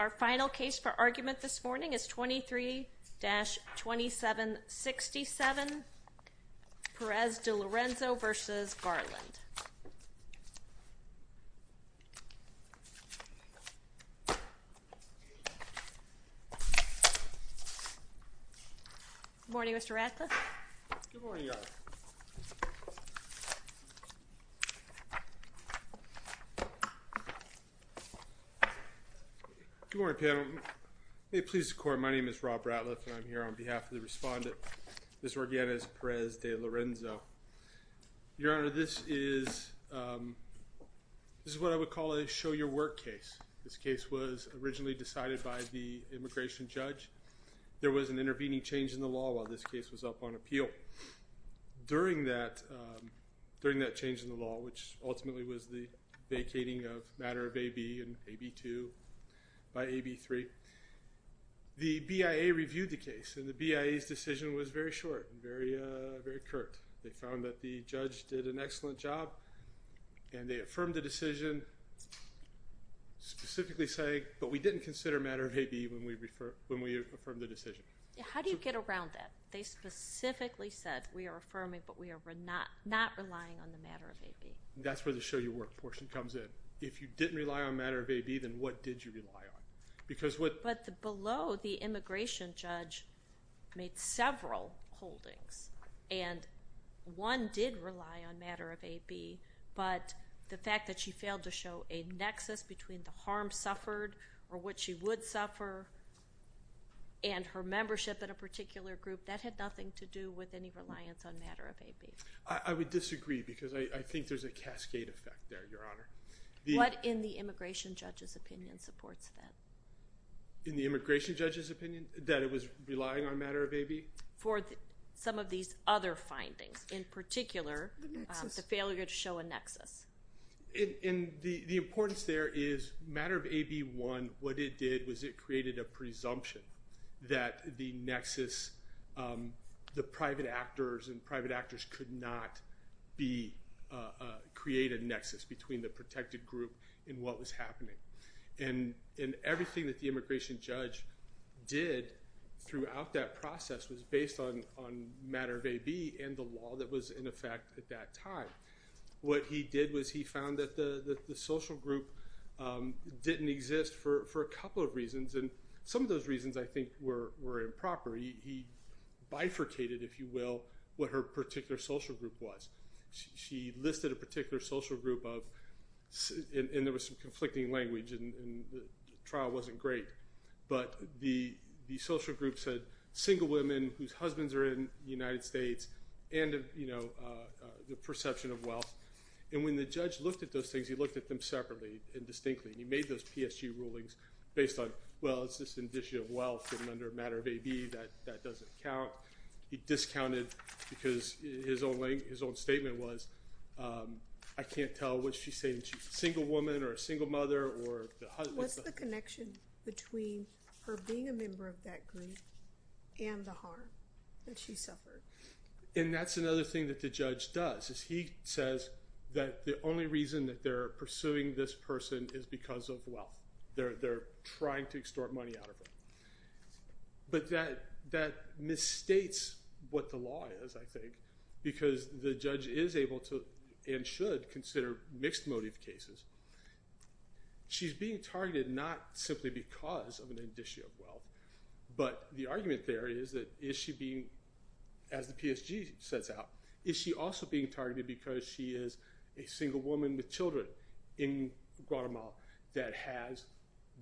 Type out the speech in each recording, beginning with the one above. Our final case for argument this morning is 23-2767 Perez De Lorenzo v. Garland. Good morning, Mr. Radcliffe. Good morning, Your Honor. Good morning, panel. May it please the Court, my name is Rob Radcliffe and I'm here on behalf of the respondent, Ms. Organiz-Perez De Lorenzo. Your Honor, this is what I would call a show-your-work case. This case was originally decided by the immigration judge. There was an intervening change in the law while this case was up on appeal. During that change in the law, which ultimately was the vacating of Matter of A.B. and A.B. 2 by A.B. 3, the BIA reviewed the case and the BIA's decision was very short and very curt. They found that the judge did an excellent job and they affirmed the decision, specifically saying, but we didn't consider Matter of A.B. when we affirmed the decision. How do you get around that? They specifically said, we are affirming, but we are not relying on the Matter of A.B. That's where the show-your-work portion comes in. If you didn't rely on Matter of A.B., then what did you rely on? But below, the immigration judge made several holdings, and one did rely on Matter of A.B., but the fact that she failed to show a nexus between the harm suffered or what she would suffer and her membership in a particular group, that had nothing to do with any reliance on Matter of A.B. I would disagree because I think there's a cascade effect there, Your Honor. What in the immigration judge's opinion supports that? In the immigration judge's opinion, that it was relying on Matter of A.B.? For some of these other findings, in particular, the failure to show a nexus. The importance there is Matter of A.B. 1, what it did was it created a presumption that the nexus, the private actors and private actors could not create a nexus between the protected group and what was happening. And everything that the immigration judge did throughout that process was based on Matter of A.B. and the law that was in effect at that time. What he did was he found that the social group didn't exist for a couple of reasons, and some of those reasons, I think, were improper. He bifurcated, if you will, what her particular social group was. She listed a particular social group of, and there was some conflicting language, and the trial wasn't great, but the social group said single women whose husbands are in the United States and the perception of wealth. And when the judge looked at those things, he looked at them separately and distinctly, and he made those PSG rulings based on, well, it's just an issue of wealth, and under Matter of A.B. that doesn't count. He discounted because his own statement was, I can't tell what she's saying. She's a single woman or a single mother or the husband. What's the connection between her being a member of that group and the harm that she suffered? And that's another thing that the judge does is he says that the only reason that they're pursuing this person is because of wealth. They're trying to extort money out of her. But that misstates what the law is, I think, because the judge is able to and should consider mixed motive cases. She's being targeted not simply because of an issue of wealth, but the argument there is that is she being, as the PSG sets out, is she also being targeted because she is a single woman with children in Guatemala that has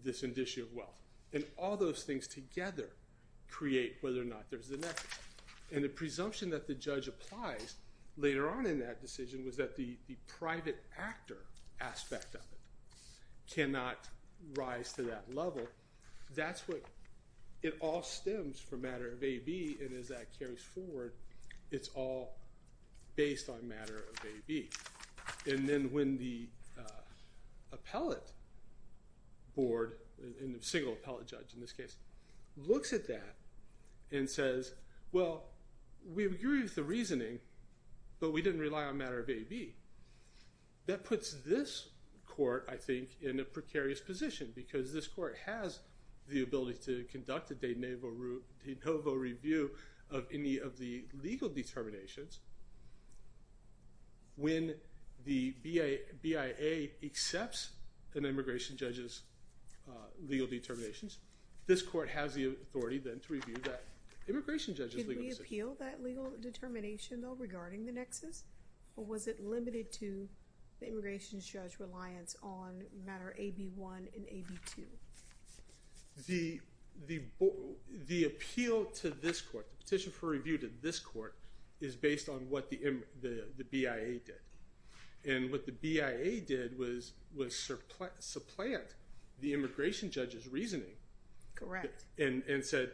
this issue of wealth? And all those things together create whether or not there's a net. And the presumption that the judge applies later on in that decision was that the private actor aspect of it cannot rise to that level. That's what it all stems from Matter of A.B., and as that carries forward, it's all based on Matter of A.B. And then when the appellate board, the single appellate judge in this case, looks at that and says, well, we agree with the reasoning, but we didn't rely on Matter of A.B., that puts this court, I think, in a precarious position because this court has the ability to conduct a de novo review of any of the legal determinations. When the BIA accepts an immigration judge's legal determinations, this court has the authority then to review that immigration judge's legal decision. Did it repeal that legal determination, though, regarding the nexus, or was it limited to the immigration judge's reliance on Matter of A.B. 1 and A.B. 2? The appeal to this court, the petition for review to this court, is based on what the BIA did. And what the BIA did was supplant the immigration judge's reasoning. Correct. And said,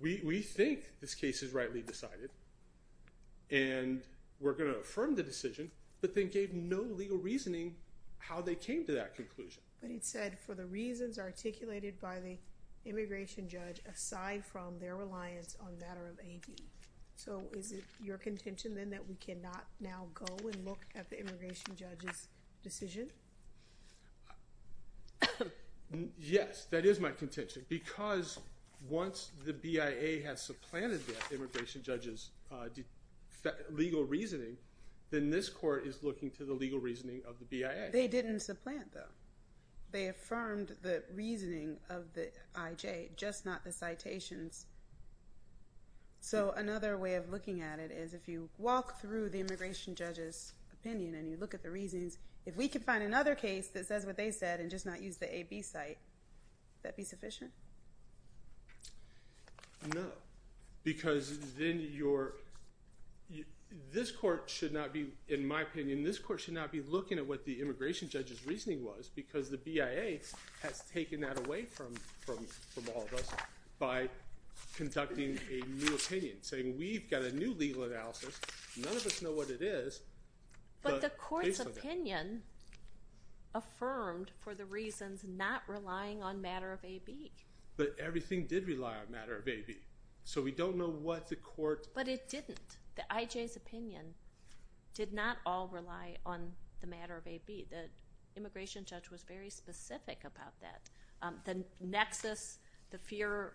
we think this case is rightly decided, and we're going to affirm the decision, but they gave no legal reasoning how they came to that conclusion. But it said, for the reasons articulated by the immigration judge, aside from their reliance on Matter of A.B. So is it your contention, then, that we cannot now go and look at the immigration judge's decision? Yes, that is my contention. Because once the BIA has supplanted the immigration judge's legal reasoning, then this court is looking to the legal reasoning of the BIA. They didn't supplant, though. They affirmed the reasoning of the IJ, just not the citations. So another way of looking at it is, if you walk through the immigration judge's opinion and you look at the reasons, if we could find another case that says what they said and just not use the A.B. site, would that be sufficient? No. Because then you're – this court should not be, in my opinion, this court should not be looking at what the immigration judge's reasoning was, because the BIA has taken that away from all of us by conducting a new opinion, saying we've got a new legal analysis. None of us know what it is. But the court's opinion affirmed for the reasons not relying on Matter of A.B. But everything did rely on Matter of A.B. So we don't know what the court – But it didn't. The IJ's opinion did not all rely on the Matter of A.B. The immigration judge was very specific about that. The nexus, the fear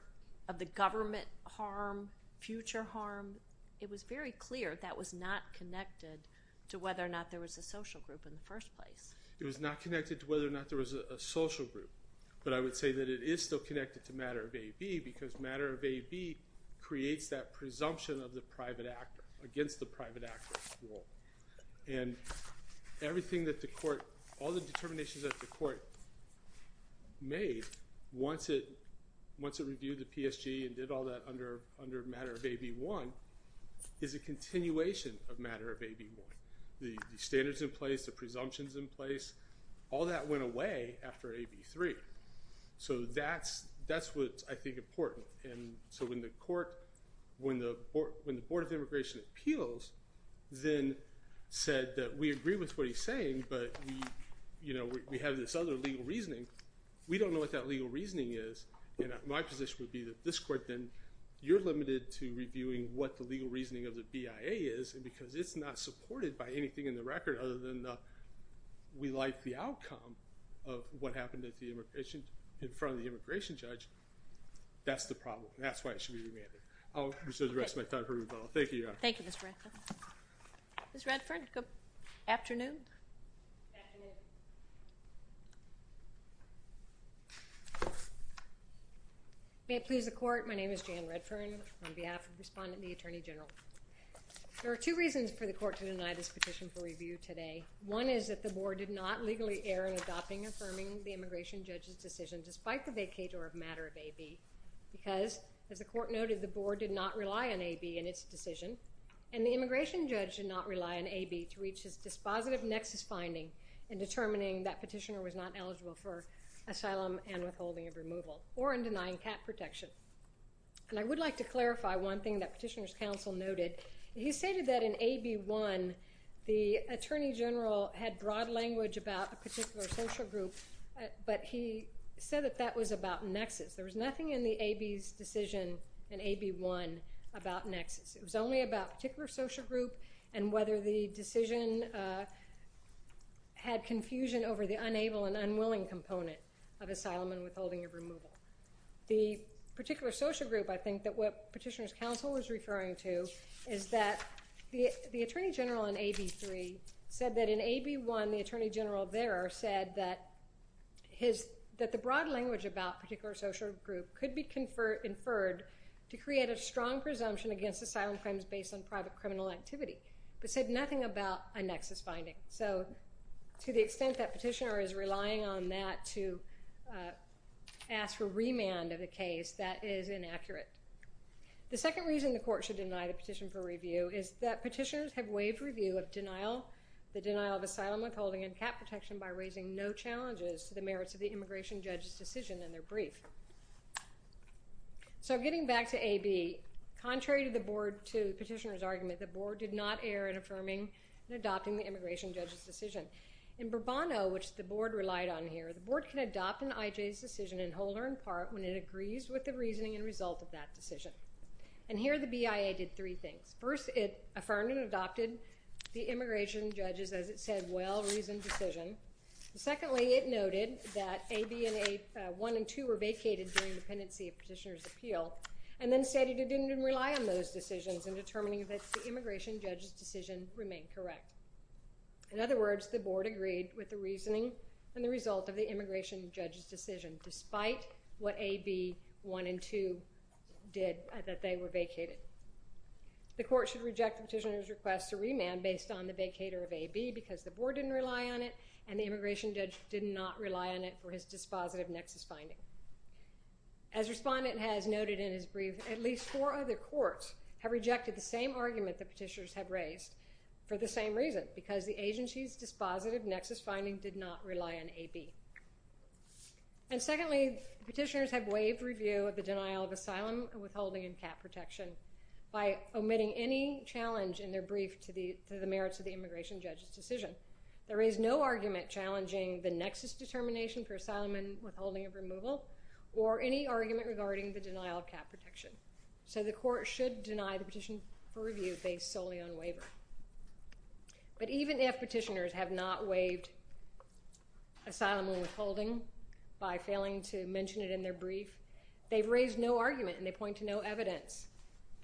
of the government harm, future harm, it was very clear that was not connected to whether or not there was a social group in the first place. It was not connected to whether or not there was a social group. But I would say that it is still connected to Matter of A.B. because Matter of A.B. creates that presumption of the private actor against the private actor's role. And everything that the court – all the determinations that the court made once it reviewed the PSG and did all that under Matter of A.B. 1 is a continuation of Matter of A.B. 1. The standards in place, the presumptions in place, all that went away after A.B. 3. So that's what I think is important. And so when the court – when the Board of Immigration Appeals then said that we agree with what he's saying but we have this other legal reasoning, we don't know what that legal reasoning is. And my position would be that this court then – you're limited to reviewing what the legal reasoning of the BIA is because it's not supported by anything in the record other than we like the outcome of what happened in front of the immigration judge. That's the problem. That's why it should be reviewed. I'll reserve the rest of my time for rebuttal. Thank you, Your Honor. Thank you, Mr. Redfern. Ms. Redfern, good afternoon. Good afternoon. May it please the court, my name is Jan Redfern on behalf of the respondent and the Attorney General. There are two reasons for the court to deny this petition for review today. One is that the board did not legally err in adopting and affirming the immigration judge's decision despite the vacate or a matter of A.B. Because, as the court noted, the board did not rely on A.B. in its decision and the immigration judge did not rely on A.B. to reach his dispositive nexus finding in determining that petitioner was not eligible for asylum and withholding of removal or in denying cap protection. And I would like to clarify one thing that petitioner's counsel noted. He stated that in A.B. 1, the Attorney General had broad language about a particular social group, but he said that that was about nexus. There was nothing in the A.B.'s decision in A.B. 1 about nexus. It was only about a particular social group and whether the decision had confusion over the unable and unwilling component of asylum and withholding of removal. The particular social group, I think, that what petitioner's counsel was referring to is that the Attorney General in A.B. 3 said that in A.B. 1, the Attorney General there said that the broad language about a particular social group could be inferred to create a strong presumption against asylum claims based on private criminal activity, but said nothing about a nexus finding. So to the extent that petitioner is relying on that to ask for remand of the case, that is inaccurate. The second reason the court should deny the petition for review is that petitioners have waived review of denial, the denial of asylum, withholding, and cap protection by raising no challenges to the merits of the immigration judge's decision in their brief. So getting back to A.B., contrary to the petitioner's argument, the board did not err in affirming and adopting the immigration judge's decision. In Bourbonneau, which the board relied on here, the board can adopt an I.J.'s decision and hold her in part when it agrees with the reasoning and result of that decision. And here the BIA did three things. First, it affirmed and adopted the immigration judge's, as it said, well-reasoned decision. Secondly, it noted that A.B. and 1 and 2 were vacated during dependency of petitioner's appeal, and then stated it didn't rely on those decisions in determining that the immigration judge's decision remained correct. In other words, the board agreed with the reasoning and the result of the immigration judge's decision, despite what A.B. 1 and 2 did, that they were vacated. The court should reject the petitioner's request to remand based on the vacater of A.B. because the board didn't rely on it, and the immigration judge did not rely on it for his dispositive nexus finding. As respondent has noted in his brief, at least four other courts have rejected the same argument the petitioners have raised for the same reason, because the agency's dispositive nexus finding did not rely on A.B. And secondly, petitioners have waived review of the denial of asylum, withholding, and cap protection by omitting any challenge in their brief to the merits of the immigration judge's decision. There is no argument challenging the nexus determination for asylum and withholding of removal, or any argument regarding the denial of cap protection. So the court should deny the petition for review based solely on waiver. But even if petitioners have not waived asylum and withholding by failing to mention it in their brief, they've raised no argument and they point to no evidence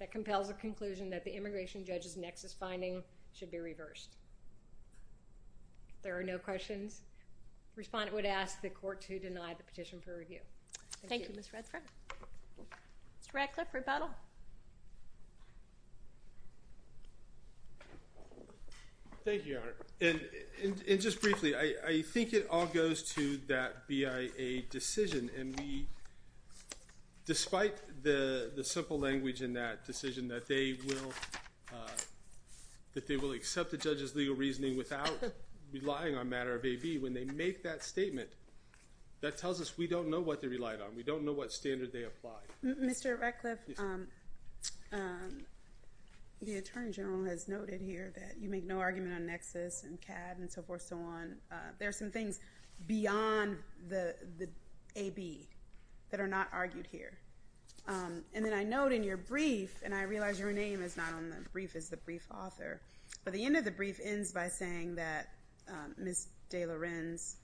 that compels a conclusion that the immigration judge's nexus finding should be reversed. If there are no questions, respondent would ask the court to deny the petition for review. Thank you. Thank you, Ms. Redford. Mr. Radcliffe, rebuttal. Thank you, Your Honor. And just briefly, I think it all goes to that BIA decision. And we, despite the simple language in that decision, that they will accept the judge's legal reasoning without relying on a matter of AB, when they make that statement, that tells us we don't know what they relied on. We don't know what standard they applied. Mr. Radcliffe, the Attorney General has noted here that you make no argument on nexus and CAD and so forth and so on. There are some things beyond the AB that are not argued here. And then I note in your brief, and I realize your name is not on the brief, it's the brief author, but the end of the brief ends by saying that Ms. DeLorenz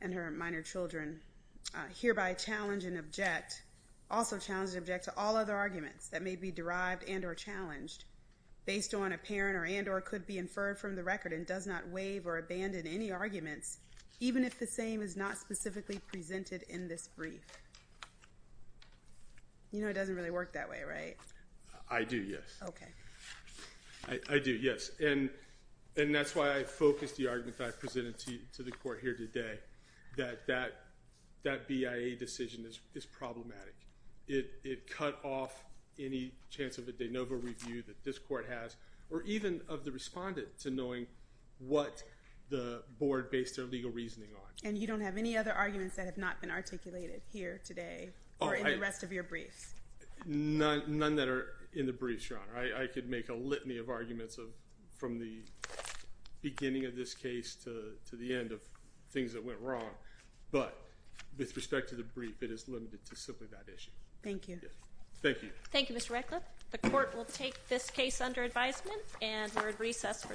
and her minor children hereby challenge and object, also challenge and object to all other arguments that may be derived and or challenged based on apparent or and or could be inferred from the record and does not waive or abandon any arguments, even if the same is not specifically presented in this brief. You know, it doesn't really work that way, right? I do, yes. Okay. I do, yes. And that's why I focused the argument that I presented to the court here today, that that BIA decision is problematic. It cut off any chance of a de novo review that this court has or even of the respondent to knowing what the board based their legal reasoning on. And you don't have any other arguments that have not been articulated here today or in the rest of your briefs? None that are in the briefs, Your Honor. I could make a litany of arguments from the beginning of this case to the end of things that went wrong. But with respect to the brief, it is limited to simply that issue. Thank you. Thank you. Thank you, Mr. Radcliffe. The court will take this case under advisement and we're at recess for today.